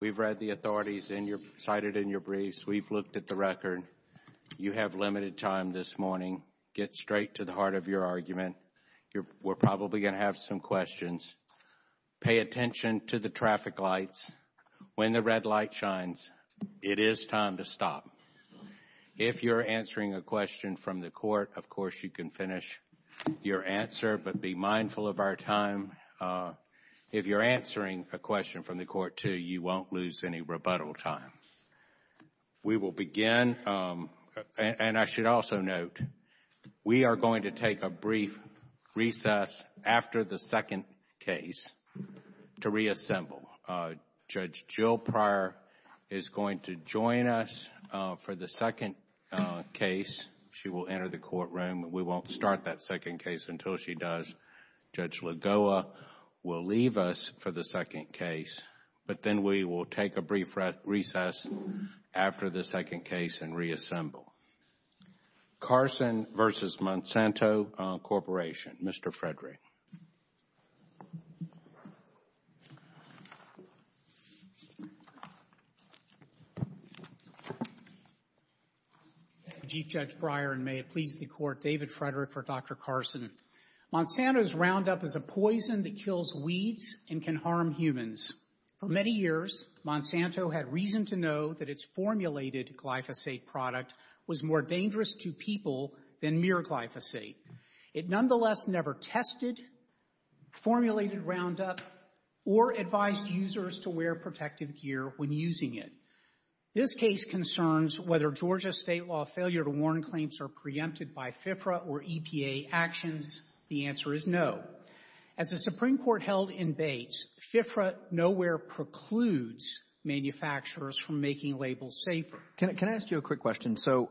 We have read the authorities cited in your briefs. We have looked at the record. You have limited time this morning. Get straight to the heart of your argument. We are probably going to have some questions. Pay attention to the traffic lights. When the red light shines, it is time to stop. If you are answering a question from the court, of course you can finish your answer, but be mindful of our time. If you are answering a question from the court, too, you won't lose any rebuttal time. We will begin, and I should also note, we are going to take a brief recess after the second case to reassemble. Judge Jill Pryor is going to join us for the second case. She will enter the courtroom. We won't start that second case until she does. Judge Lagoa will leave us for the second case, but then we will take a brief recess after the second case and reassemble. Carson v. Monsanto Corporation, Mr. Frederick. Chief Judge Pryor, and may it please the Court, David Frederick for Dr. Carson. Monsanto's Roundup is a poison that kills weeds and can harm humans. For many years, Monsanto had reason to know that its formulated glyphosate product was more dangerous to people than mere glyphosate. It nonetheless never tested, formulated Roundup, or advised users to wear protective gear when using it. This case concerns whether Georgia state law failure to warn claims are preempted by FFRA or EPA actions. The answer is no. As the Supreme Court held in Bates, FFRA nowhere precludes manufacturers from making labels safer. Can I ask you a quick question? So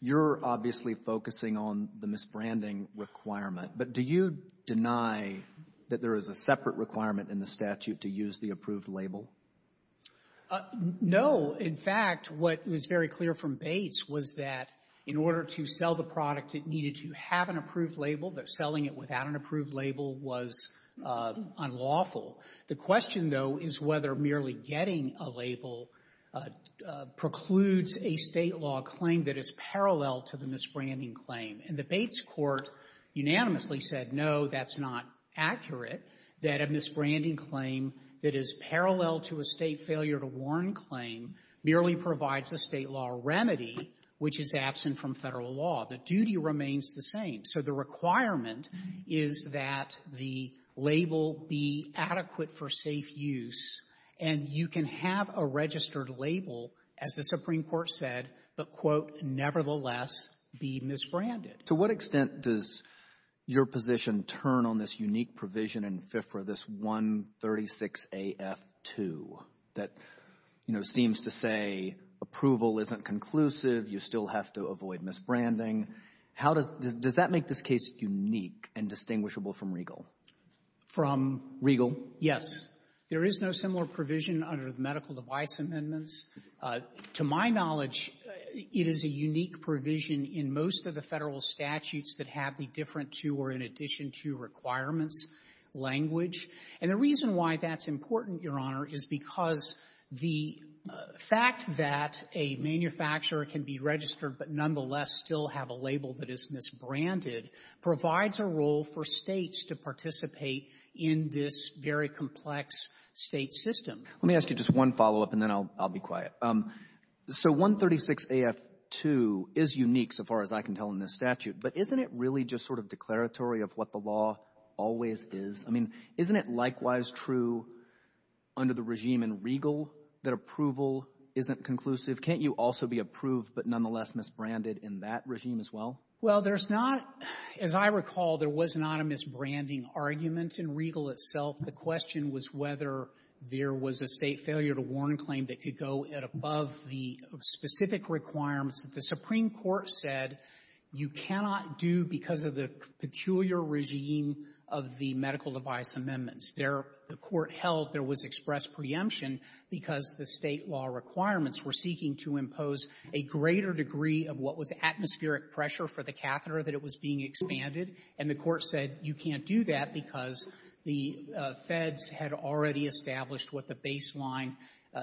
you're obviously focusing on the misbranding requirement, but do you deny that there is a separate requirement in the statute to use the approved label? No. In fact, what was very clear from Bates was that in order to sell the product, it needed to have an approved label, that selling it without an approved label was unlawful. The question, though, is whether merely getting a label precludes a state law claim that is parallel to the misbranding claim. And the Bates Court unanimously said, no, that's not accurate, that a misbranding claim that is parallel to a state failure to warn claim merely provides a state law remedy which is absent from Federal law. The duty remains the same. So the requirement is that the label be adequate for safe use, and you can have a registered label, as the Supreme Court said, but, quote, nevertheless be misbranded. To what extent does your position turn on this unique provision in FIFRA, this 136af2, that, you know, seems to say approval isn't conclusive, you still have to avoid misbranding? How does that make this case unique and distinguishable from Regal? From? Regal. Yes. There is no similar provision under the medical device amendments. To my knowledge, it is a unique provision in most of the Federal statutes that have the different to or in addition to requirements language. And the reason why that's important, Your Honor, is because the fact that a manufacturer can be registered but nonetheless still have a label that is misbranded provides a role for States to participate in this very complex State system. Let me ask you just one follow-up, and then I'll be quiet. So 136af2 is unique so far as I can tell in this statute, but isn't it really just sort of declaratory of what the law always is? I mean, isn't it likewise true under the regime in Regal that approval isn't conclusive? Can't you also be approved but nonetheless misbranded in that regime as well? Well, there's not as I recall, there was not a misbranding argument in Regal itself. The question was whether there was a State failure-to-warn claim that could go above the specific requirements that the Supreme Court said you cannot do because of the peculiar regime of the medical device amendments. There, the Court held there was express preemption because the State law requirements were seeking to impose a greater degree of what was atmospheric pressure for the catheter that it was being expanded, and the Court said you can't do that because the Feds had already established what the baseline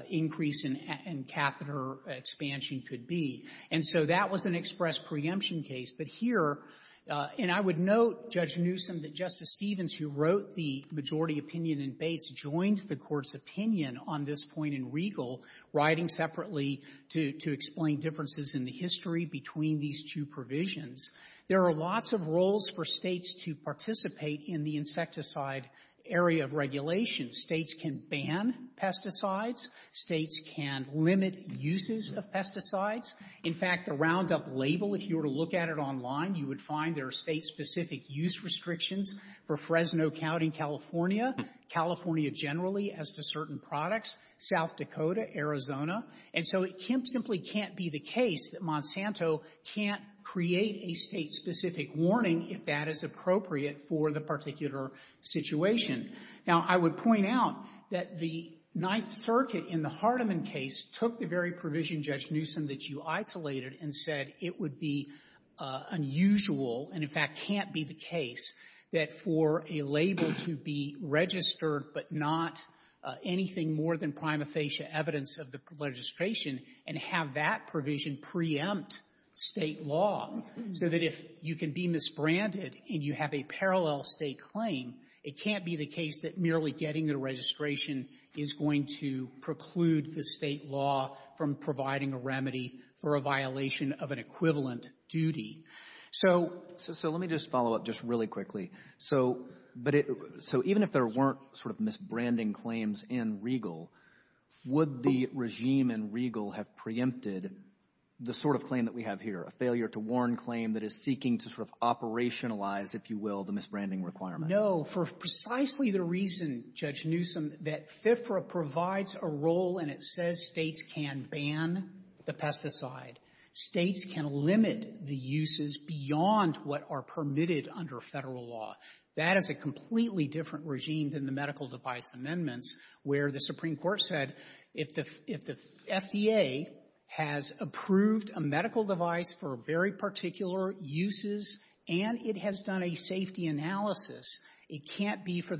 increase in catheter expansion could be. And so that was an express preemption case. But here, and I would note, Judge Newsom, that Justice Stevens, who wrote the majority opinion in Bates, joined the Court's opinion on this point in Regal, writing separately to explain differences in the history between these two provisions. There are lots of roles for States to participate in the insecticide area of regulation. States can ban pesticides. States can limit uses of pesticides. In fact, the Roundup label, if you were to look at it online, you would find there are State-specific use restrictions for Fresno, Cal, and California, California generally as to certain products, South Dakota, Arizona. And so it simply can't be the case that Monsanto can't create a State-specific warning if that is appropriate for the particular situation. Now, I would point out that the Ninth Circuit in the Hardiman case took the very provision, Judge Newsom, that you isolated and said it would be unusual and, in fact, it can't be the case that for a label to be registered, but not anything more than prima facie evidence of the legislation, and have that provision preempt State law so that if you can be misbranded and you have a parallel State claim, it can't be the case that merely getting the registration is going to preclude the State law from providing a remedy for a violation of an equivalent duty. So — Roberts. Let me just follow up just really quickly. So — but it — so even if there weren't sort of misbranding claims in Regal, would the regime in Regal have preempted the sort of claim that we have here, a failure-to-warn claim that is seeking to sort of operationalize, if you will, the misbranding requirement? No. For precisely the reason, Judge Newsom, that FFRA provides a role, and it says States can ban the pesticide. States can limit the uses beyond what are permitted under Federal law. That is a completely different regime than the medical-device amendments where the Supreme Court said if the — if the FDA has approved a medical device for very particular uses and it has done a safety analysis, it can't be for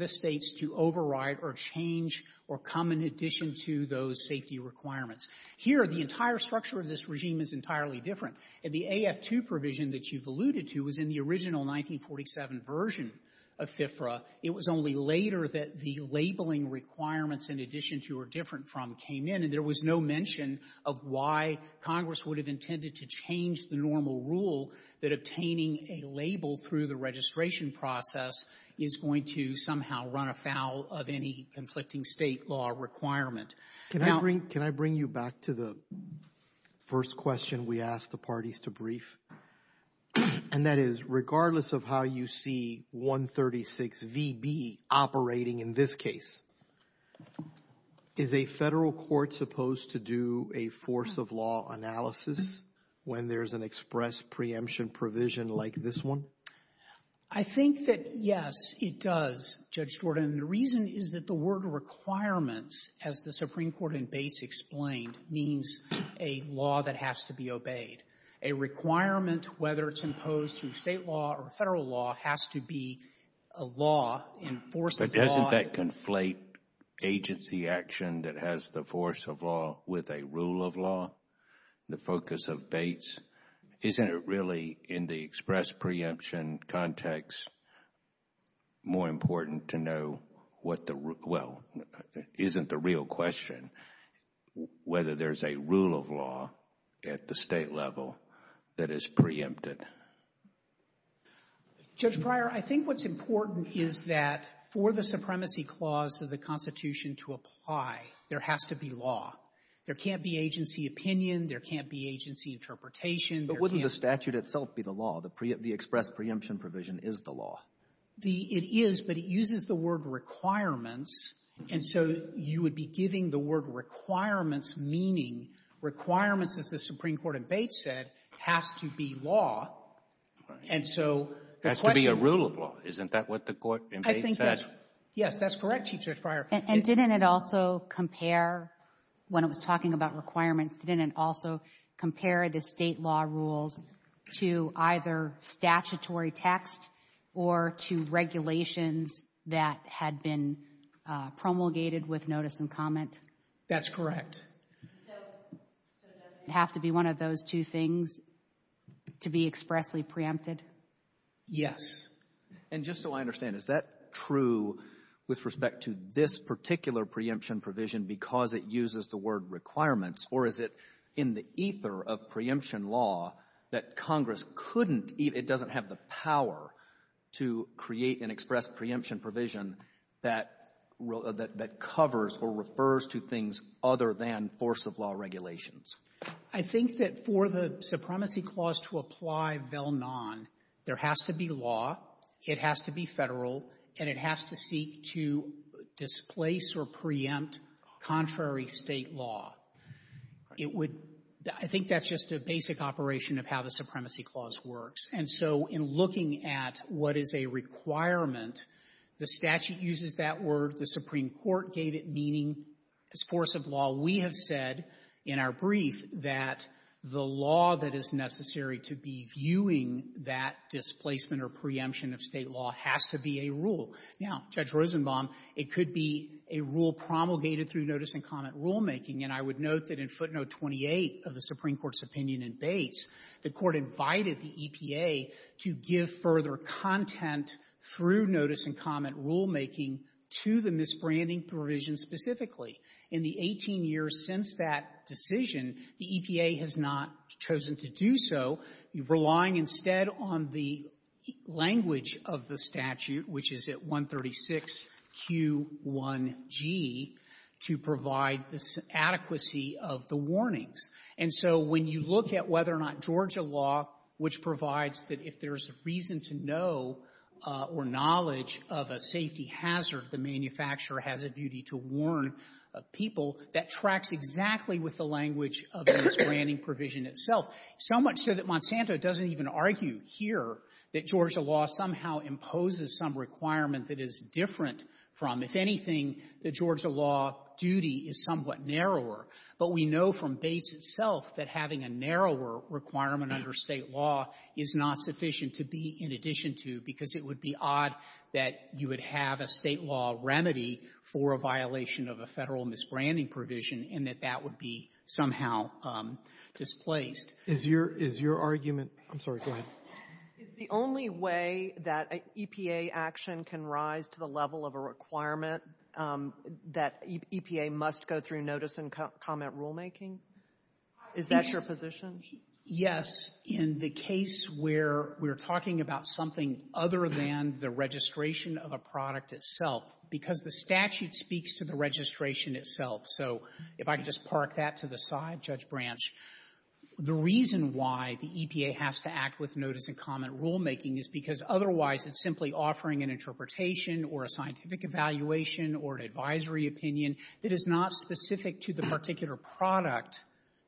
in addition to those safety requirements. Here, the entire structure of this regime is entirely different. And the AF2 provision that you've alluded to was in the original 1947 version of FFRA. It was only later that the labeling requirements in addition to or different from came in, and there was no mention of why Congress would have intended to change the normal rule that obtaining a label through the registration process is going to somehow run afoul of any conflicting State law requirement. Now — Can I bring you back to the first question we asked the parties to brief? And that is, regardless of how you see 136 V.B. operating in this case, is a Federal court supposed to do a force-of-law analysis when there's an express preemption provision like this one? I think that, yes, it does, Judge Jordan. The reason is that the word requirements, as the Supreme Court in Bates explained, means a law that has to be obeyed. A requirement, whether it's imposed through State law or Federal law, has to be a law in force of law. But doesn't that conflate agency action that has the force of law with a rule of law, the focus of Bates? Isn't it really, in the express preemption context, more important to know what the — well, isn't the real question whether there's a rule of law at the State level that is preempted? Judge Breyer, I think what's important is that for the supremacy clause of the Constitution to apply, there has to be law. There can't be agency opinion. There can't be agency interpretation. But wouldn't the statute itself be the law? The express preemption provision is the law. It is, but it uses the word requirements. And so you would be giving the word requirements, meaning requirements, as the Supreme Court in Bates said, has to be law. And so the question — Has to be a rule of law. Isn't that what the court in Bates said? Yes, that's correct, Judge Breyer. And didn't it also compare, when it was talking about requirements, didn't it also compare the State law rules to either statutory text or to regulations that had been promulgated with notice and comment? That's correct. So does it have to be one of those two things to be expressly preempted? Yes. And just so I understand, is that true with respect to this particular preemption provision because it uses the word requirements, or is it in the ether of preemption law that Congress couldn't — it doesn't have the power to create an express preemption provision that covers or refers to things other than force-of-law regulations? I think that for the supremacy clause to apply vel non, there has to be law, it has to be Federal, and it has to seek to displace or preempt contrary State law. It would — I think that's just a basic operation of how the supremacy clause works. And so in looking at what is a requirement, the statute uses that word. The Supreme Court gave it meaning as force of law. We have said in our brief that the law that is necessary to be viewing that displacement or preemption of State law has to be a rule. Now, Judge Rosenbaum, it could be a rule promulgated through notice and comment rulemaking. And I would note that in footnote 28 of the Supreme Court's opinion in Bates, the Court invited the EPA to give further content through notice and comment rulemaking to the misbranding provision specifically. In the 18 years since that decision, the EPA has not chosen to do so, relying instead on the language of the statute, which is at 136Q1G, to provide this adequacy of the warnings. And so when you look at whether or not Georgia law, which provides that if there's reason to know or knowledge of a safety hazard, the manufacturer has a duty to warn people, that tracks exactly with the language of this branding provision itself. So much so that Monsanto doesn't even argue here that Georgia law somehow imposes some requirement that is different from, if anything, the Georgia law duty is somewhat narrower. But we know from Bates itself that having a narrower requirement under State law is not sufficient to be in addition to, because it would be odd that you would have a State law remedy for a violation of a Federal misbranding provision, and that that would be somehow displaced. Is your argument — I'm sorry, go ahead. Is the only way that EPA action can rise to the level of a requirement that EPA must go through notice and comment rulemaking? Is that your position? Yes. In the case where we're talking about something other than the registration of a product itself, because the statute speaks to the registration itself. So if I could just park that to the side, Judge Branch, the reason why the EPA has to act with notice and comment rulemaking is because otherwise it's simply offering an interpretation or a scientific evaluation or an advisory opinion that is not specific to the particular product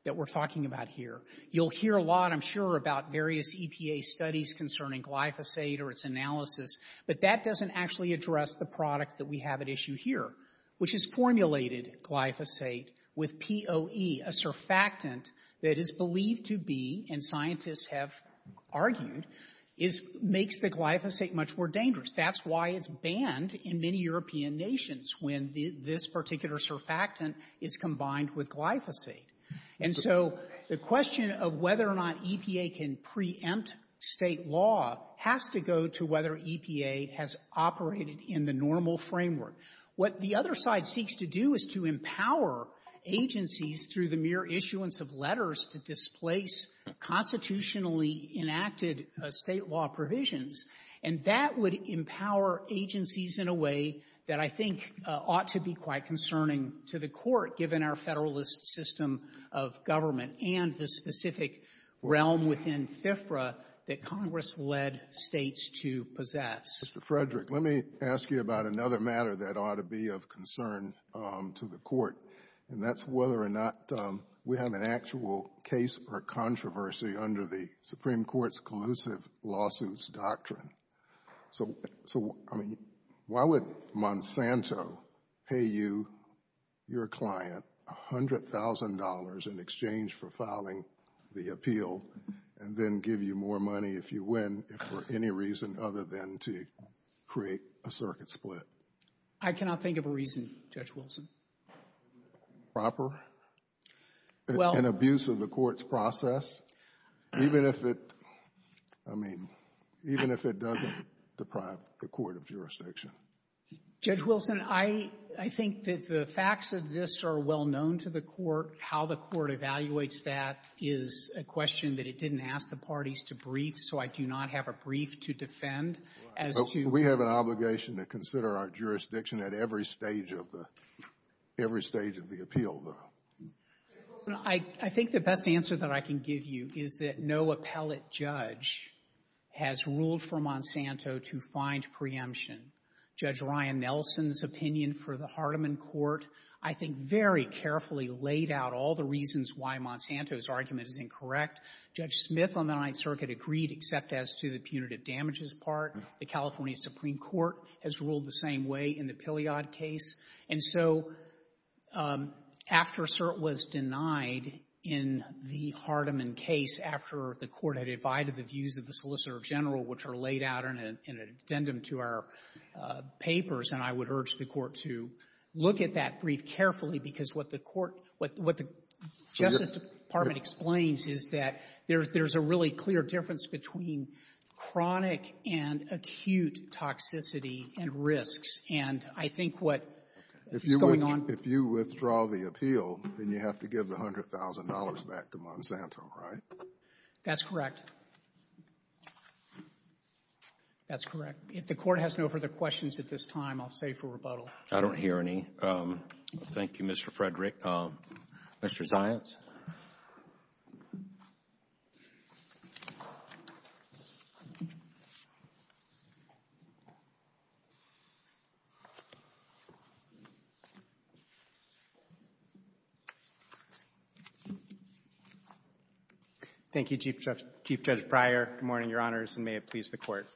that we're talking about here. You'll hear a lot, I'm sure, about various EPA studies concerning glyphosate or its analysis, but that doesn't actually address the product that we have at issue here, which is formulated glyphosate with POE, a surfactant that is believed to be, and scientists have argued, is — makes the glyphosate much more dangerous. That's why it's banned in many European nations when this particular surfactant is combined with glyphosate. And so the question of whether or not EPA can preempt State law has to go to whether EPA has operated in the normal framework. What the other side seeks to do is to empower agencies through the mere issuance of letters to displace constitutionally enacted State law provisions, and that would empower agencies in a way that I think ought to be quite concerning to the Court, given our Federalist system of government and the specific realm within FFRA that Congress led States to possess. Mr. Frederick, let me ask you about another matter that ought to be of concern to the Court, and that's whether or not we have an actual case or controversy under the Supreme Court's collusive lawsuits doctrine. So, I mean, why would Monsanto pay you, your client, $100,000 in exchange for filing the appeal and then give you more money if you win, if for any reason other than to create a circuit split? I cannot think of a reason, Judge Wilson. Proper? Well — An abuse of the Court's process? Even if it — I mean, even if it doesn't deprive the Court of Jurisdiction? Judge Wilson, I think that the facts of this are well known to the Court. How the Court evaluates that is a question that it didn't ask the parties to brief, so I do not have a brief to defend as to — Well, we have an obligation to consider our jurisdiction at every stage of the — every stage of the appeal, though. Judge Wilson, I think the best answer that I can give you is that no appellate judge has ruled for Monsanto to find preemption. Judge Ryan Nelson's opinion for the Hardiman Court, I think, very carefully laid out all the reasons why Monsanto's argument is incorrect. Judge Smith on the Ninth Circuit agreed except as to the punitive damages part. The California Supreme Court has ruled the same way in the Piliad case. And so after the Court had divided the views of the Solicitor General, which are laid out in an addendum to our papers, and I would urge the Court to look at that brief carefully because what the Court — what the Justice Department explains is that there's a really clear difference between chronic and acute toxicity and risks. And I think what is going on — Then you have to give the $100,000 back to Monsanto, right? That's correct. That's correct. If the Court has no further questions at this time, I'll save for rebuttal. I don't hear any. Thank you, Mr. Frederick. Mr. Zients? Thank you, Chief Judge Breyer. Good morning, Your Honors, and may it please the Court.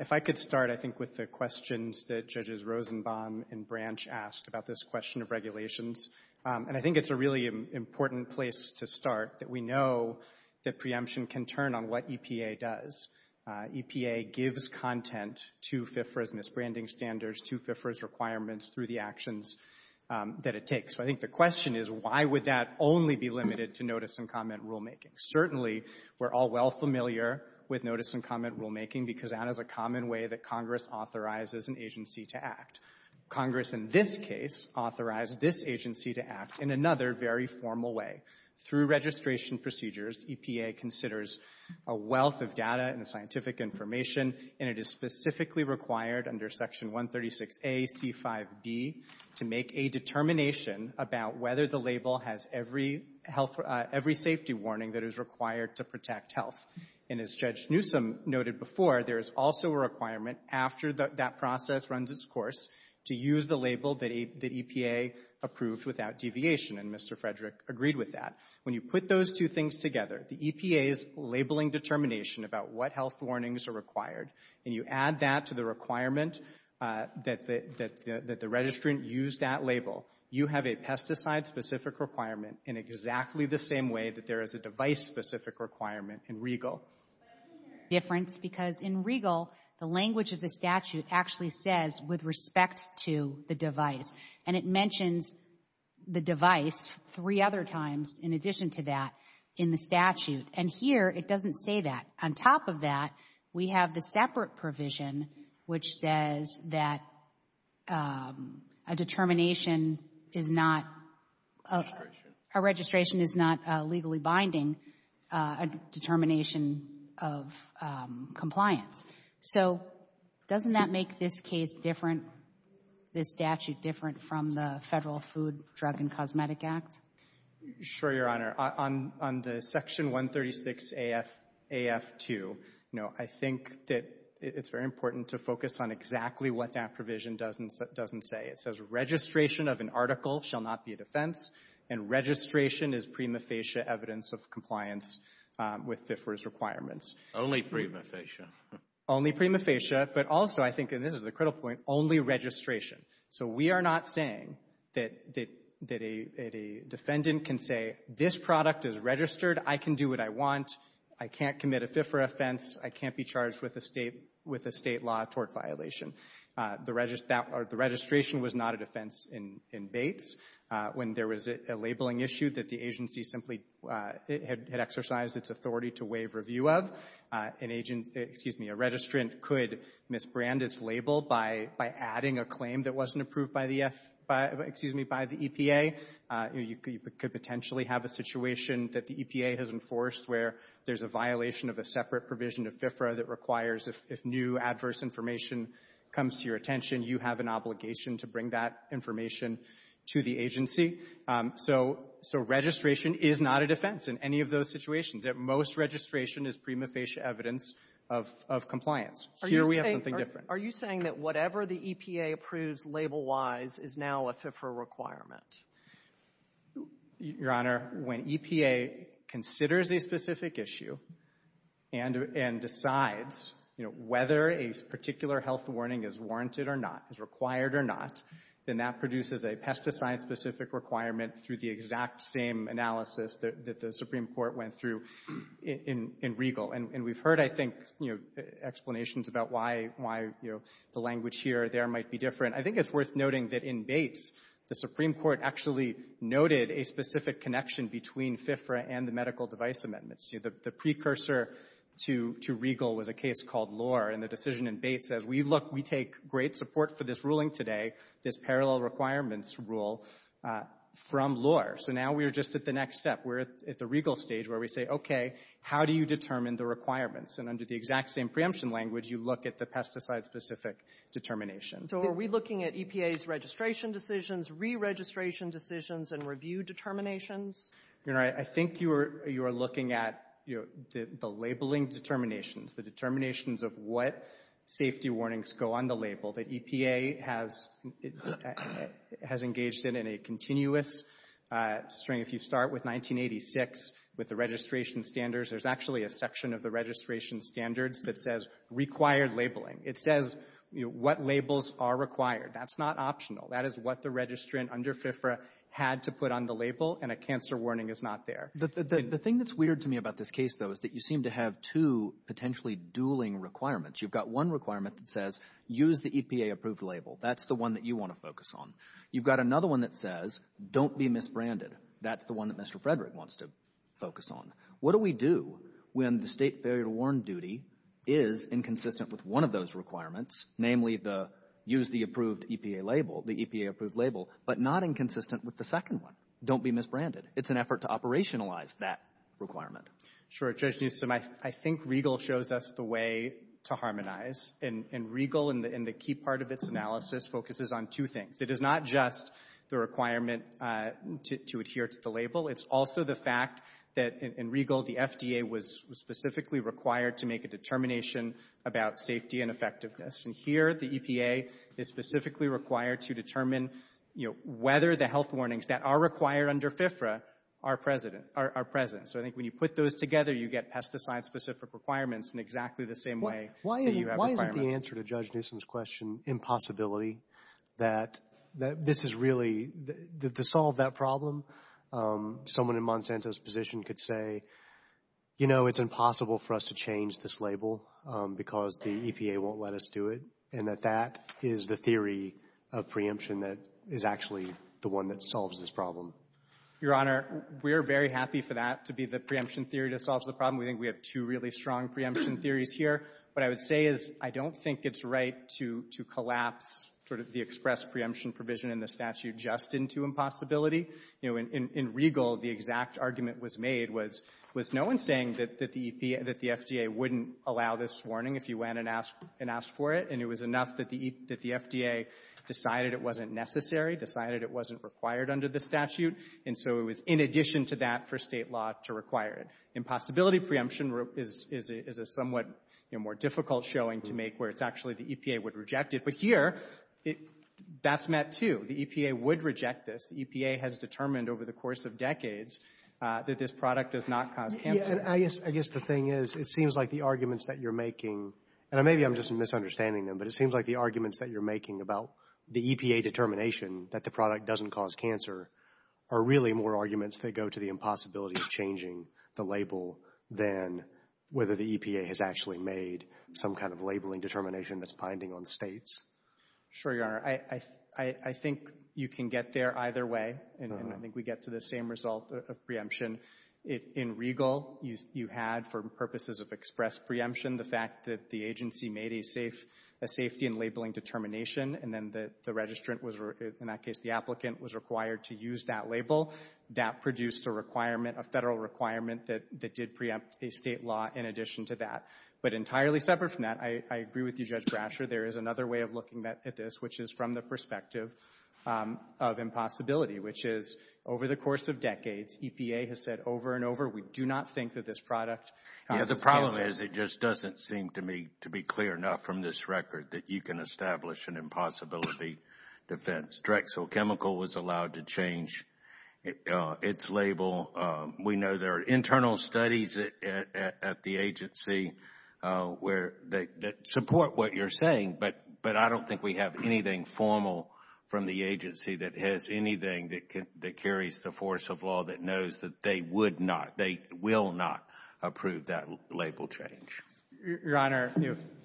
If I could start, I think, with the questions that Judges Rosenbaum and Branch asked about this question of regulations. And I think it's a really important place to start that we know that preemption can turn on what EPA does. EPA gives content to FIFRA's misbranding standards, to FIFRA's requirements through the actions that it takes. So I think the question is, why would that only be limited to notice-and-comment rulemaking? Certainly, we're all well familiar with notice-and-comment rulemaking because that is a common way that Congress authorizes an agency to act. Congress, in this case, authorized this agency to act in another very formal way. Through registration procedures, EPA considers a wealth of data and scientific information, and it is specifically required under Section 136A.C.5.B. to make a determination about whether the label has every safety warning that is required to protect health. And as Judge Newsom noted before, there is also a requirement after that process runs its course to use the label that EPA approved without And you add that to the requirement that the registrant use that label, you have a pesticide-specific requirement in exactly the same way that there is a device-specific requirement in Regal. But I think there is a difference because in Regal, the language of the statute actually says, with respect to the device, and it mentions the device three other times in addition to that in the statute. And here, it doesn't say that. On top of that, we have the separate provision which says that a determination is not a registration is not legally binding, a determination of compliance. So doesn't that make this case different, this statute different from the Federal Food, Drug, and Cosmetic Act? Sure, Your Honor. On the Section 136AF2, I think that it's very important to focus on exactly what that provision doesn't say. It says, registration of an article shall not be a defense, and registration is prima facie evidence of compliance with FFRA's requirements. Only prima facie. Only prima facie, but also I think, and this is a critical point, only registration. So we are not saying that a defendant can say, this product is registered. I can do what I want. I can't commit a FFRA offense. I can't be charged with a State law tort violation. The registration was not a defense in Bates. When there was a labeling issue that the agency simply had exercised its authority to waive review of, an agent, excuse me, a registrant could misbrand its label by adding a claim that wasn't approved by the F, excuse me, by the EPA. You could potentially have a situation that the EPA has enforced where there's a violation of a separate provision of FFRA that requires if new adverse information comes to your attention, you have an obligation to bring that information to the agency. So registration is not a defense in any of those situations. At most, registration is prima facie evidence of compliance. Here we have something different. Are you saying that whatever the EPA approves label-wise is now a FFRA requirement? Your Honor, when EPA considers a specific issue and decides, you know, whether a particular health warning is warranted or not, is required or not, then that produces a pesticide-specific requirement through the exact same analysis that the language here or there might be different. I think it's worth noting that in Bates, the Supreme Court actually noted a specific connection between FFRA and the medical device amendments. The precursor to Regal was a case called Lohr, and the decision in Bates says, we look, we take great support for this ruling today, this parallel requirements rule from Lohr. So now we're just at the next step. We're at the Regal stage where we say, okay, how do you determine the requirements? And under the exact same preemption language, you look at the pesticide-specific determination. So are we looking at EPA's registration decisions, re-registration decisions, and review determinations? Your Honor, I think you are looking at the labeling determinations, the determinations of what safety warnings go on the label that EPA has engaged in in a continuous string. If you start with 1986 with the registration standards, there's actually a section of the registration standards that says required labeling. It says what labels are required. That's not optional. That is what the registrant under FFRA had to put on the label, and a cancer warning is not there. The thing that's weird to me about this case, though, is that you seem to have two potentially dueling requirements. You've got one requirement that says, use the EPA-approved label. That's the one that you want to focus on. You've got another one that says, don't be misbranded. That's the one that Mr. Frederick wants to focus on. What do we do when the State failure to warn duty is inconsistent with one of those requirements, namely the use the approved EPA label, the EPA-approved label, but not inconsistent with the second one? Don't be misbranded. It's an effort to operationalize that requirement. Sure. Judge Newsom, I think Regal shows us the way to harmonize, and Regal in the key part of its analysis focuses on two things. It is not just the requirement to adhere to the label. It's also the fact that in Regal, the FDA was specifically required to make a determination about safety and effectiveness. And here, the EPA is specifically required to determine whether the health warnings that are required under FFRA are present. So I think when you put those together, you get pesticide-specific requirements in exactly the same way that you have requirements. Why isn't the answer to Judge Newsom's question impossibility? That this is really, to solve that problem, someone in Monsanto's position could say, you know, it's impossible for us to change this label because the EPA won't let us do it, and that that is the theory of preemption that is actually the one that solves this problem. Your Honor, we're very happy for that to be the preemption theory that solves the problem. We think we have two really strong preemption theories here. What I would say is I don't think it's right to collapse sort of the express preemption provision in the statute just into impossibility. You know, in Regal, the exact argument was made was, was no one saying that the EPA and that the FDA wouldn't allow this warning if you went and asked for it, and it was enough that the FDA decided it wasn't necessary, decided it wasn't required under the statute. And so it was in addition to that for State law to require it. The impossibility preemption is a somewhat more difficult showing to make where it's actually the EPA would reject it. But here, that's met too. The EPA would reject this. The EPA has determined over the course of decades that this product does not cause cancer. I guess the thing is, it seems like the arguments that you're making, and maybe I'm just misunderstanding them, but it seems like the arguments that you're making about the EPA determination that the product doesn't cause cancer are really more arguments that go to the impossibility of changing the label than whether the EPA has actually made some kind of labeling determination that's binding on States. Sure, Your Honor. I think you can get there either way, and I think we get to the same result of preemption. In Regal, you had, for purposes of express preemption, the fact that the agency made a safety and labeling determination, and then the registrant was, in that case the applicant, was required to use that label. That produced a federal requirement that did preempt a State law in addition to that. But entirely separate from that, I agree with you, Judge Brasher. There is another way of looking at this, which is from the perspective of impossibility, which is over the course of decades, EPA has said over and over, we do not think that this product causes cancer. The problem is it just doesn't seem to me to be clear enough from this record that you can establish an impossibility defense. Drexel Chemical was allowed to change its label. We know there are internal studies at the agency that support what you're saying, but I don't think we have anything formal from the agency that has anything that carries the force of law that knows that they would not, they will not approve that label change. Your Honor,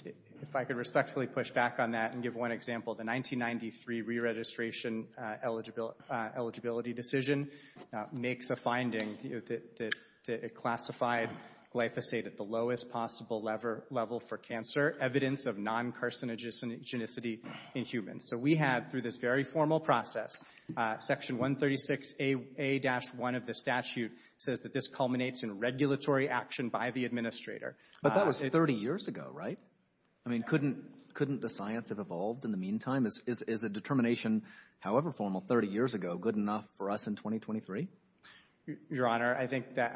if I could respectfully push back on that and give one example, the 1993 re-registration eligibility decision makes a finding that it classified glyphosate at the lowest possible level for cancer, evidence of non-carcinogenicity in humans. So we have, through this very formal process, Section 136A-1 of the statute says that this culminates in regulatory action by the administrator. But that was 30 years ago, right? I mean, couldn't the science have evolved in the meantime? Is a determination, however formal, 30 years ago, good enough for us in 2023? Your Honor, I think that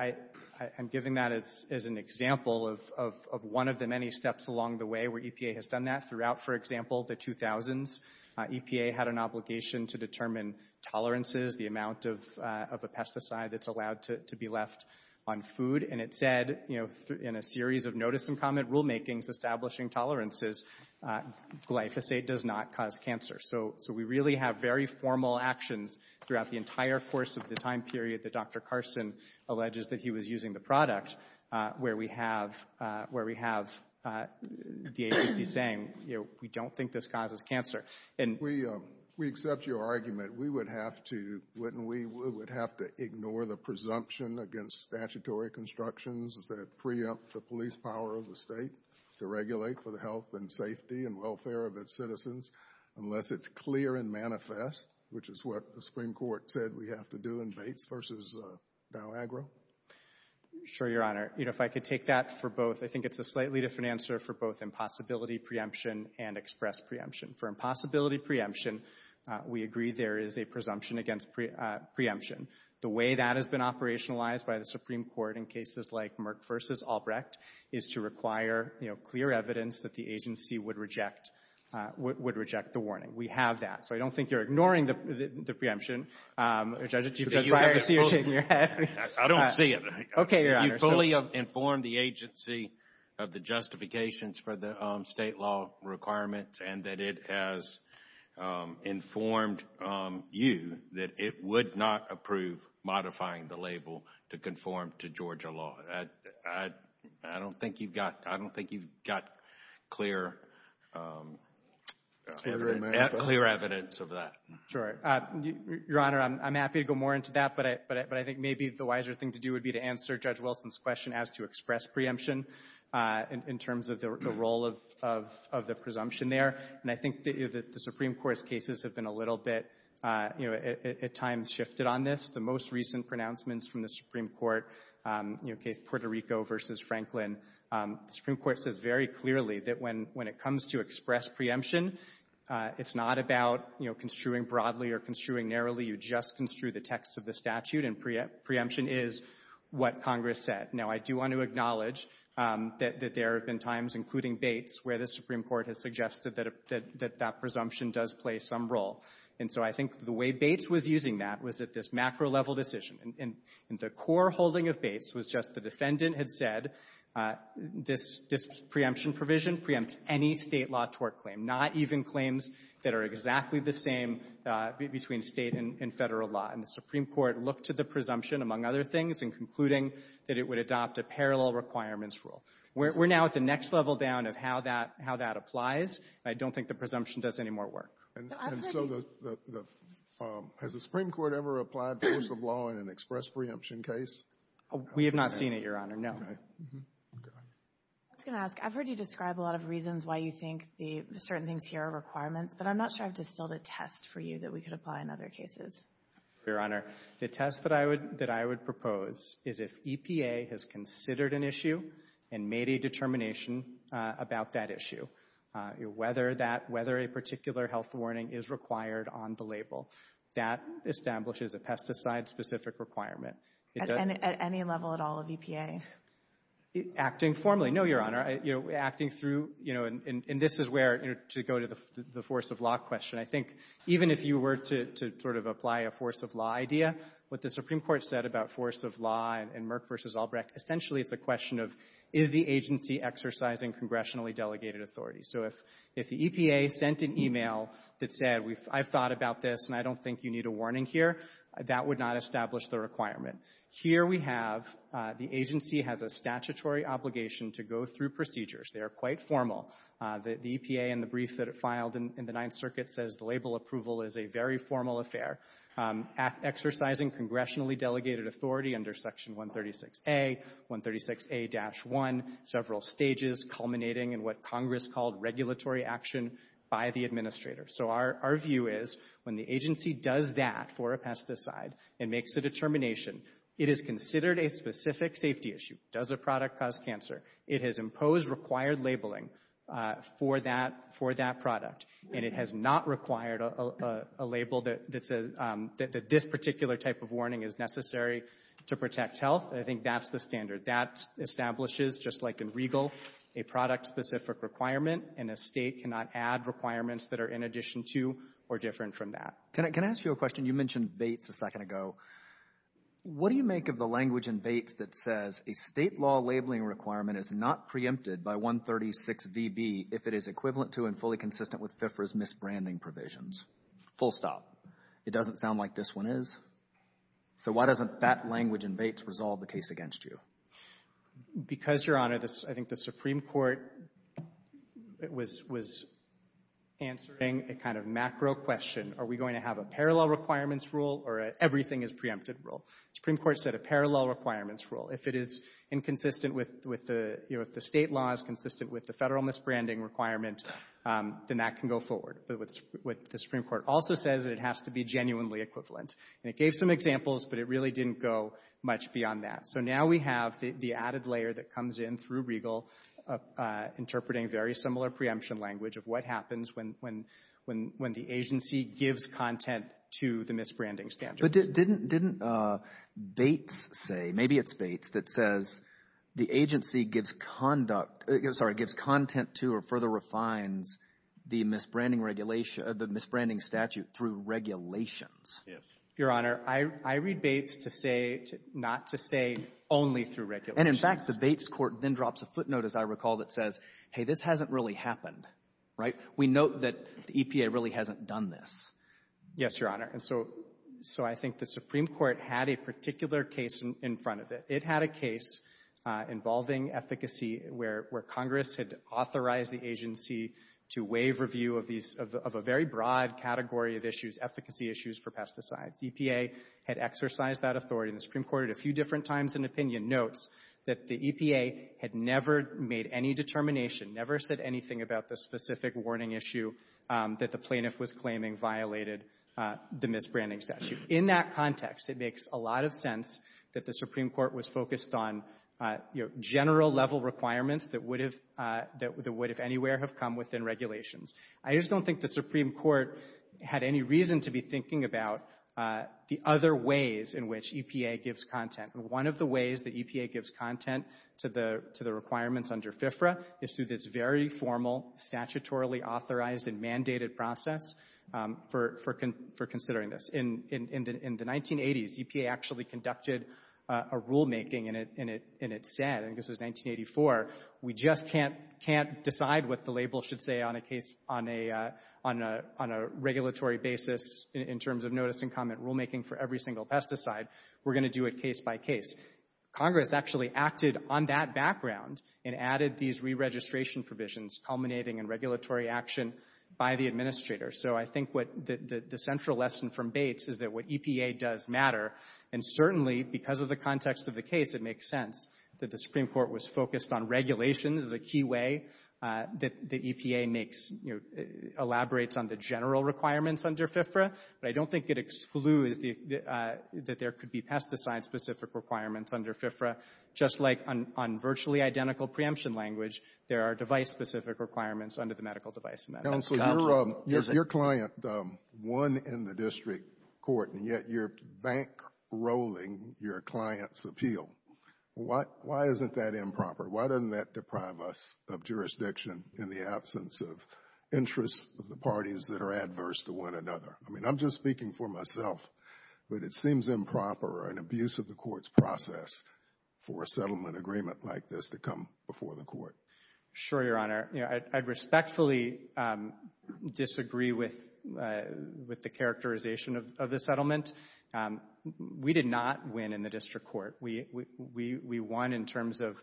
I'm giving that as an example of one of the many steps along the way where EPA has done that throughout, for example, the 2000s. EPA had an obligation to determine tolerances, the amount of a pesticide that's allowed to be left on food. And it said, you know, in a series of notice and comment rulemakings establishing tolerances, glyphosate does not cause cancer. So we really have very formal actions throughout the entire course of the time period that Dr. Carson alleges that he was using the product where we have the agency saying, you know, we don't think this causes cancer. We accept your argument. Wouldn't we have to ignore the presumption against statutory constructions that preempt the police power of the state to regulate for the health and safety and welfare of its citizens unless it's clear and manifest, which is what the Supreme Court said we have to do in Bates v. Dow Agro? Sure, Your Honor. You know, if I could take that for both. I think it's a slightly different answer for both impossibility preemption and express preemption. For impossibility preemption, we agree there is a presumption against preemption. The way that has been operationalized by the Supreme Court in cases like Merck v. Albrecht is to require, you know, clear evidence that the agency would reject the warning. We have that. So I don't think you're ignoring the preemption. I don't see it. Okay, Your Honor. You fully informed the agency of the justifications for the state law requirements and that it has informed you that it would not approve modifying the label to conform to Georgia law. I don't think you've got clear evidence of that. Sure. Your Honor, I'm happy to go more into that, but I think maybe the wiser thing to do would be to answer Judge Wilson's question as to express preemption in terms of the role of the presumption there. And I think the Supreme Court's cases have been a little bit, you know, at times shifted on this. The most recent pronouncements from the Supreme Court, you know, case Puerto Rico v. Franklin, the Supreme Court says very clearly that when it comes to express preemption, it's not about, you know, construing broadly or construing narrowly. You just construe the text of the statute, and preemption is what Congress said. Now, I do want to acknowledge that there have been times, including Bates, where the Supreme Court has suggested that that presumption does play some role. And so I think the way Bates was using that was at this macro-level decision. And the core holding of Bates was just the defendant had said this preemption provision preempts any State law tort claim, not even claims that are exactly the same between State and Federal law. And the Supreme Court looked to the presumption, among other things, in concluding that it would adopt a parallel requirements rule. We're now at the next level down of how that applies. I don't think the presumption does any more work. And so the — has the Supreme Court ever applied force of law in an express preemption case? We have not seen it, Your Honor, no. Okay. I was going to ask. I've heard you describe a lot of reasons why you think the certain things here are requirements, but I'm not sure I've distilled a test for you that we could apply in other cases. Your Honor, the test that I would propose is if EPA has considered an issue and made a determination about that issue, whether that — whether a particular health warning is required on the label. That establishes a pesticide-specific requirement. At any level at all of EPA? Acting formally, no, Your Honor. Acting through — you know, and this is where to go to the force of law question. I think even if you were to sort of apply a force of law idea, what the Supreme Court said about force of law and Merck v. Albrecht, essentially it's a question of is the agency exercising congressionally delegated authority. So if the EPA sent an e-mail that said, I've thought about this, and I don't think you need a warning here, that would not establish the requirement. Here we have the agency has a statutory obligation to go through procedures. They are quite formal. The EPA in the brief that it filed in the Ninth Circuit says the label approval is a very formal affair. Exercising congressionally delegated authority under Section 136A, 136A-1, several stages culminating in what Congress called regulatory action by the administrator. So our view is when the agency does that for a pesticide and makes a determination, it is considered a specific safety issue. Does a product cause cancer? It has imposed required labeling for that product, and it has not required a label that says that this particular type of warning is necessary to protect health. I think that's the standard. That establishes, just like in Regal, a product-specific requirement, and a State cannot add requirements that are in addition to or different from that. Can I ask you a question? You mentioned Bates a second ago. What do you make of the language in Bates that says a State law labeling requirement is not preempted by 136VB if it is equivalent to and fully consistent with FFRA's misbranding provisions? Full stop. It doesn't sound like this one is. So why doesn't that language in Bates resolve the case against you? Because, Your Honor, I think the Supreme Court was answering a kind of macro question. Are we going to have a parallel requirements rule or an everything is preempted rule? The Supreme Court said a parallel requirements rule. If it is inconsistent with the State laws, consistent with the Federal misbranding requirement, then that can go forward. But what the Supreme Court also says is it has to be genuinely equivalent. And it gave some examples, but it really didn't go much beyond that. So now we have the added layer that comes in through Regal interpreting very similar preemption language of what happens when the agency gives content to the misbranding standards. But didn't Bates say, maybe it's Bates, that says the agency gives content to or further refines the misbranding statute through regulations? Yes. Your Honor, I read Bates to say not to say only through regulations. And, in fact, the Bates court then drops a footnote, as I recall, that says, hey, this hasn't really happened, right? We note that the EPA really hasn't done this. Yes, Your Honor. And so I think the Supreme Court had a particular case in front of it. It had a case involving efficacy where Congress had authorized the agency to waive review of a very broad category of issues, efficacy issues for pesticides. EPA had exercised that authority. And the Supreme Court at a few different times in opinion notes that the EPA had never made any determination, never said anything about the specific warning issue that the plaintiff was claiming violated the misbranding statute. In that context, it makes a lot of sense that the Supreme Court was focused on general-level requirements that would, if anywhere, have come within regulations. I just don't think the Supreme Court had any reason to be thinking about the other ways in which EPA gives content. One of the ways that EPA gives content to the requirements under FFRA is through this very formal, statutorily authorized and mandated process for considering this. In the 1980s, EPA actually conducted a rulemaking, and it said, and this was 1984, we just can't decide what the label should say on a case on a regulatory basis in terms of notice and comment rulemaking for every single pesticide. We're going to do it case by case. Congress actually acted on that background and added these re-registration provisions, culminating in regulatory action by the administrator. So I think what the central lesson from Bates is that what EPA does matter. And certainly, because of the context of the case, it makes sense that the Supreme Court was focused on regulations as a key way that the EPA makes, elaborates on the general requirements under FFRA. But I don't think it excludes that there could be pesticide-specific requirements under FFRA. Just like on virtually identical preemption language, there are device-specific requirements under the medical device amendment. Counsel, your client won in the district court, and yet you're bankrolling your client's appeal. Why isn't that improper? Why doesn't that deprive us of jurisdiction in the absence of interests of the parties that are adverse to one another? I mean, I'm just speaking for myself, but it seems improper or an abuse of the court's process for a settlement agreement like this to come before the court. Sure, Your Honor. You know, I respectfully disagree with the characterization of the settlement. We did not win in the district court. We won in terms of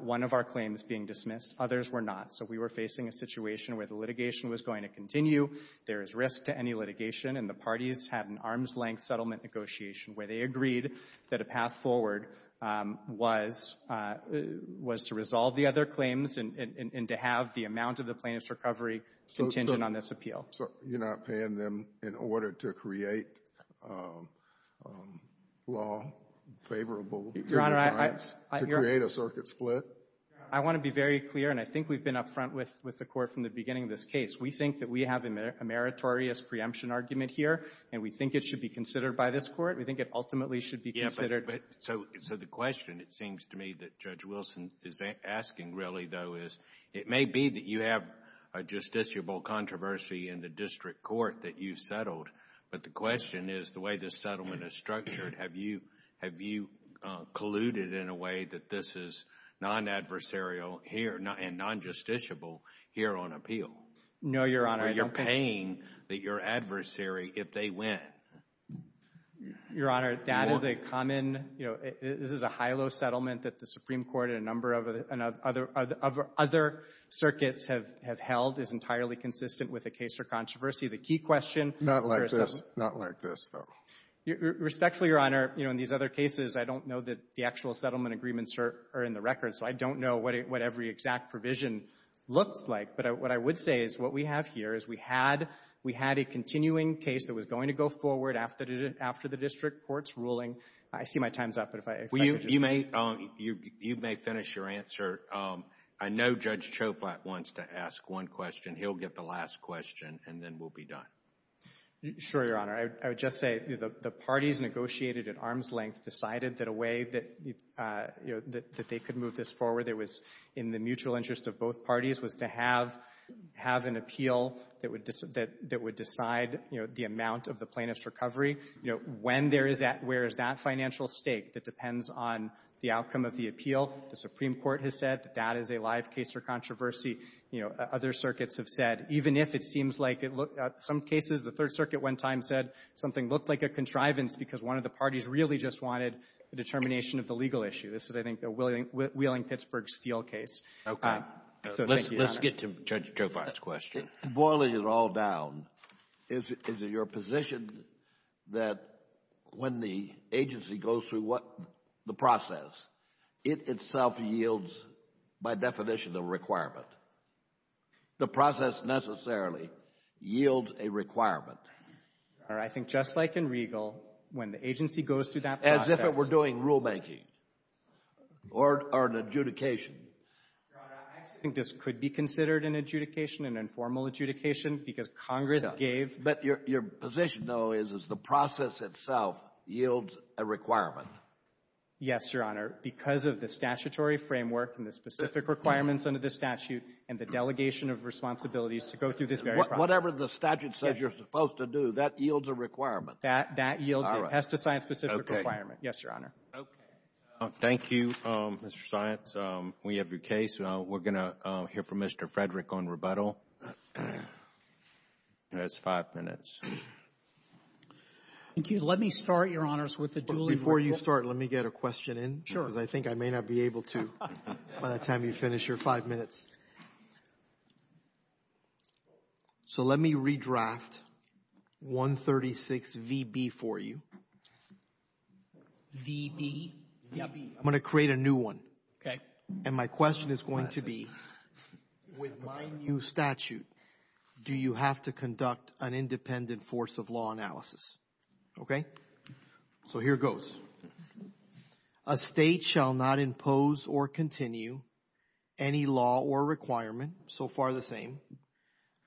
one of our claims being dismissed. Others were not. So we were facing a situation where the litigation was going to continue. There is risk to any litigation, and the parties had an arm's-length settlement negotiation where they agreed that a path forward was to resolve the other claims and to have the amount of the plaintiff's recovery contingent on this appeal. So you're not paying them in order to create law favorable to their clients, to create a circuit split? I want to be very clear, and I think we've been up front with the court from the beginning of this case. We think that we have a meritorious preemption argument here, and we think it should be considered by this court. We think it ultimately should be considered. So the question, it seems to me, that Judge Wilson is asking really, though, is it may be that you have a justiciable controversy in the district court that you've settled, but the question is the way this settlement is structured, have you colluded in a way that this is non-adversarial here and non-justiciable here on appeal? No, Your Honor. You're paying your adversary if they win. Your Honor, that is a common—this is a HILO settlement that the Supreme Court and a number of other circuits have held is entirely consistent with a case for controversy. The key question— Not like this. Not like this, though. Respectfully, Your Honor, in these other cases, I don't know that the actual settlement agreements are in the record, so I don't know what every exact provision looks like. But what I would say is what we have here is we had a continuing case that was going to go forward after the district court's ruling. I see my time's up, but if I— You may finish your answer. I know Judge Choflat wants to ask one question. He'll get the last question, and then we'll be done. Sure, Your Honor. I would just say the parties negotiated at arm's length decided that a way that they could move this forward that was in the mutual interest of both parties was to have an appeal that would decide, you know, the amount of the plaintiff's recovery. You know, when there is that—where is that financial stake that depends on the outcome of the appeal? The Supreme Court has said that that is a live case for controversy. You know, other circuits have said, even if it seems like it looks— Some cases, the Third Circuit one time said something looked like a contrivance because one of the parties really just wanted a determination of the legal issue. This is, I think, a Wheeling-Pittsburgh-Steele case. Okay. Let's get to Judge Choflat's question. Boiling it all down, is it your position that when the agency goes through the process, it itself yields, by definition, a requirement? The process necessarily yields a requirement. I think just like in Regal, when the agency goes through that process— Or an adjudication. Your Honor, I actually think this could be considered an adjudication, an informal adjudication, because Congress gave— But your position, though, is the process itself yields a requirement. Yes, Your Honor. Because of the statutory framework and the specific requirements under the statute and the delegation of responsibilities to go through this very process. Whatever the statute says you're supposed to do, that yields a requirement. That yields a pesticide-specific requirement. Okay. Yes, Your Honor. Okay. Thank you, Mr. Science. We have your case. We're going to hear from Mr. Frederick on rebuttal. He has five minutes. Thank you. Let me start, Your Honors, with the duly— Before you start, let me get a question in. Sure. Because I think I may not be able to by the time you finish your five minutes. So let me redraft 136VB for you. VB? I'm going to create a new one. Okay. And my question is going to be, with my new statute, do you have to conduct an independent force of law analysis? Okay? So here goes. A state shall not impose or continue any law or requirement, so far the same,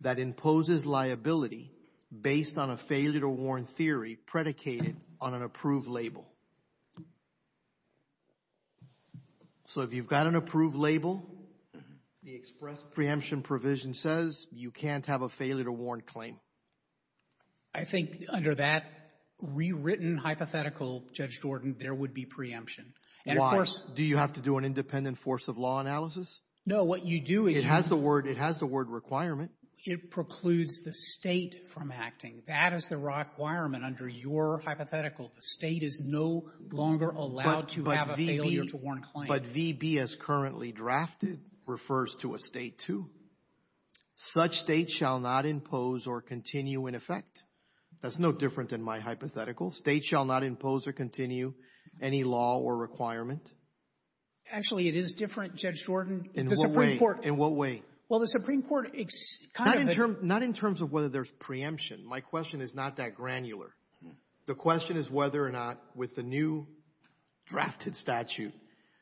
that imposes liability based on a failure-to-warn theory predicated on an approved label. So if you've got an approved label, the express preemption provision says you can't have a failure-to-warn claim. I think under that rewritten hypothetical, Judge Jordan, there would be preemption. Why? Do you have to do an independent force of law analysis? No. So what you do is you It has the word requirement. It precludes the state from acting. That is the requirement under your hypothetical. The state is no longer allowed to have a failure-to-warn claim. But VB, as currently drafted, refers to a state, too. Such state shall not impose or continue in effect. That's no different than my hypothetical. State shall not impose or continue any law or requirement. Actually, it is different, Judge Jordan. In what way? In what way? Well, the Supreme Court kind of had Not in terms of whether there's preemption. My question is not that granular. The question is whether or not, with the new drafted statute,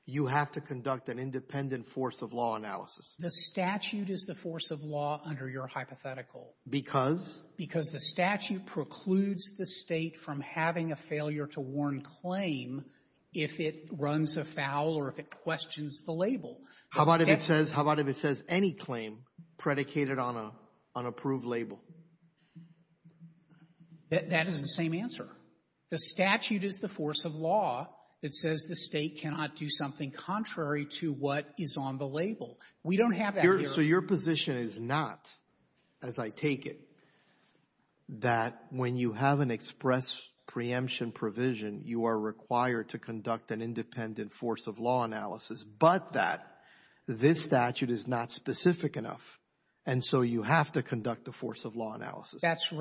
you have to conduct an independent force of law analysis. The statute is the force of law under your hypothetical. Because? Because the statute precludes the state from having a failure-to-warn claim if it runs a foul or if it questions the label. How about if it says any claim predicated on an approved label? That is the same answer. The statute is the force of law that says the state cannot do something contrary to what is on the label. We don't have that here. So your position is not, as I take it, that when you have an express preemption provision, you are required to conduct an independent force of law analysis, but that this statute is not specific enough, and so you have to conduct a force of law analysis. That's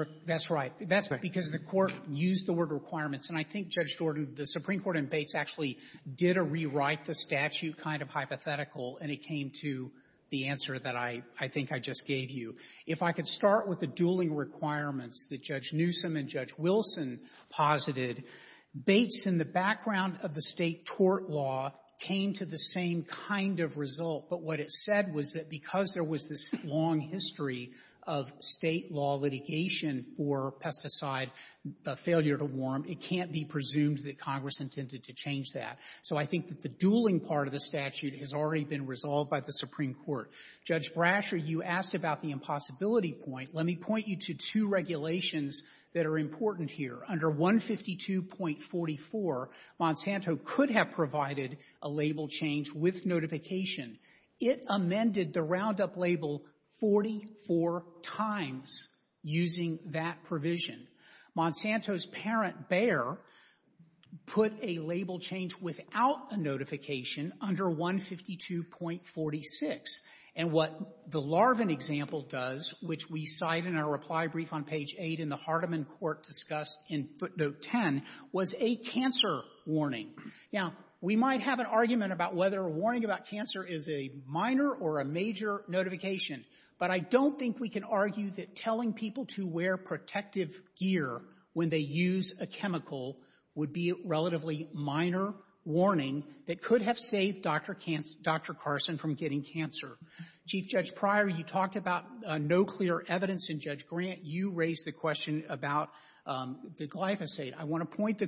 right. That's because the Court used the word requirements. And I think, Judge Jordan, the Supreme Court in Bates actually did a rewrite-the-statute kind of hypothetical, and it came to the answer that I think I just gave you. If I could start with the dueling requirements that Judge Newsom and Judge Wilson posited, Bates, in the background of the State tort law, came to the same kind of result. But what it said was that because there was this long history of State law litigation for pesticide failure-to-warm, it can't be presumed that Congress intended to change that. So I think that the dueling part of the statute has already been resolved by the Supreme Court. Judge Brasher, you asked about the impossibility point. Let me point you to two regulations that are important here. Under 152.44, Monsanto could have provided a label change with notification. It amended the Roundup label 44 times using that provision. Monsanto's parent, Bayer, put a label change without a notification under 152.46. And what the Larvin example does, which we cite in our reply brief on page 8 in the Hardiman Court discussed in footnote 10, was a cancer warning. Now, we might have an argument about whether a warning about cancer is a minor or a major notification, but I don't think we can argue that telling people to wear protective gear when they use a chemical would be a relatively minor warning that could have saved Dr. Carson from getting cancer. Chief Judge Pryor, you talked about no clear evidence in Judge Grant. You raised the question about the glyphosate. I want to point the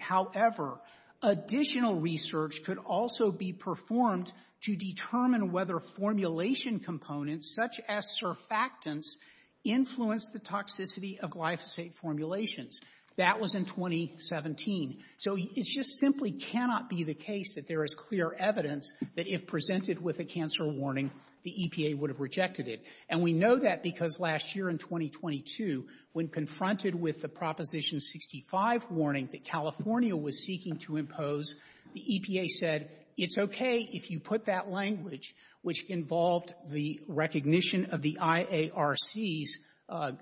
However, additional research could also be performed to determine whether formulation components such as surfactants influence the toxicity of glyphosate formulations. That was in 2017. So it just simply cannot be the case that there is clear evidence that if presented with a cancer warning, the EPA would have rejected it. And we know that because last year in 2022, when confronted with the Proposition 65 warning that California was seeking to impose, the EPA said, it's okay if you put that language, which involved the recognition of the IARC's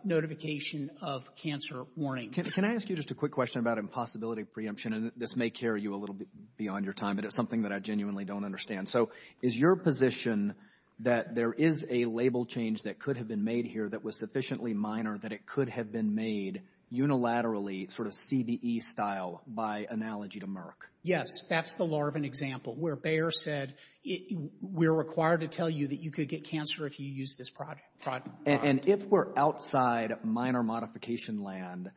notification of cancer warnings. Can I ask you just a quick question about impossibility of preemption? And this may carry you a little bit beyond your time, but it's something that I genuinely don't understand. So is your position that there is a label change that could have been made here that was sufficiently minor that it could have been made unilaterally, sort of CBE style, by analogy to Merck? Yes, that's the Larvin example, where Bayer said, we're required to tell you that you could get cancer if you use this product. And if we're outside minor modification land,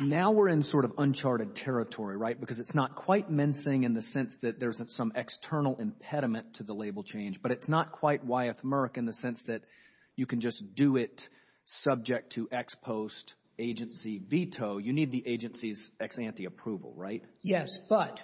now we're in sort of uncharted territory, right? Because it's not quite mincing in the sense that there's some external impediment to the label change, but it's not quite why it's Merck in the sense that you can just do it subject to ex-post agency veto. You need the agency's ex-ante approval, right? Yes, but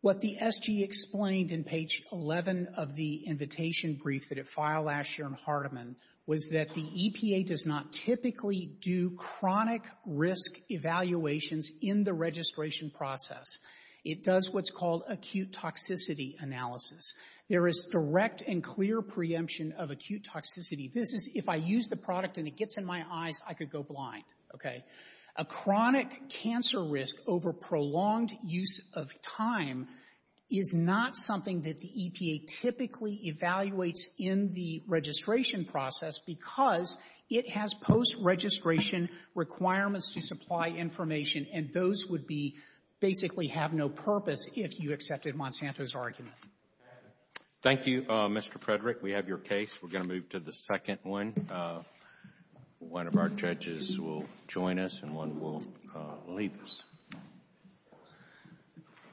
what the SG explained in page 11 of the invitation brief that it filed last year in Hardeman was that the EPA does not typically do chronic risk evaluations in the registration process. It does what's called acute toxicity analysis. There is direct and clear preemption of acute toxicity. This is if I use the product and it gets in my eyes, I could go blind, okay? A chronic cancer risk over prolonged use of time is not something that the EPA typically evaluates in the registration process because it has post-registration requirements to supply information, and those would be basically have no purpose if you accepted Monsanto's argument. Thank you, Mr. Frederick. We have your case. We're going to move to the second one. One of our judges will join us and one will leave us.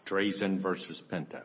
Drazen versus Penta. Okay. Thank you.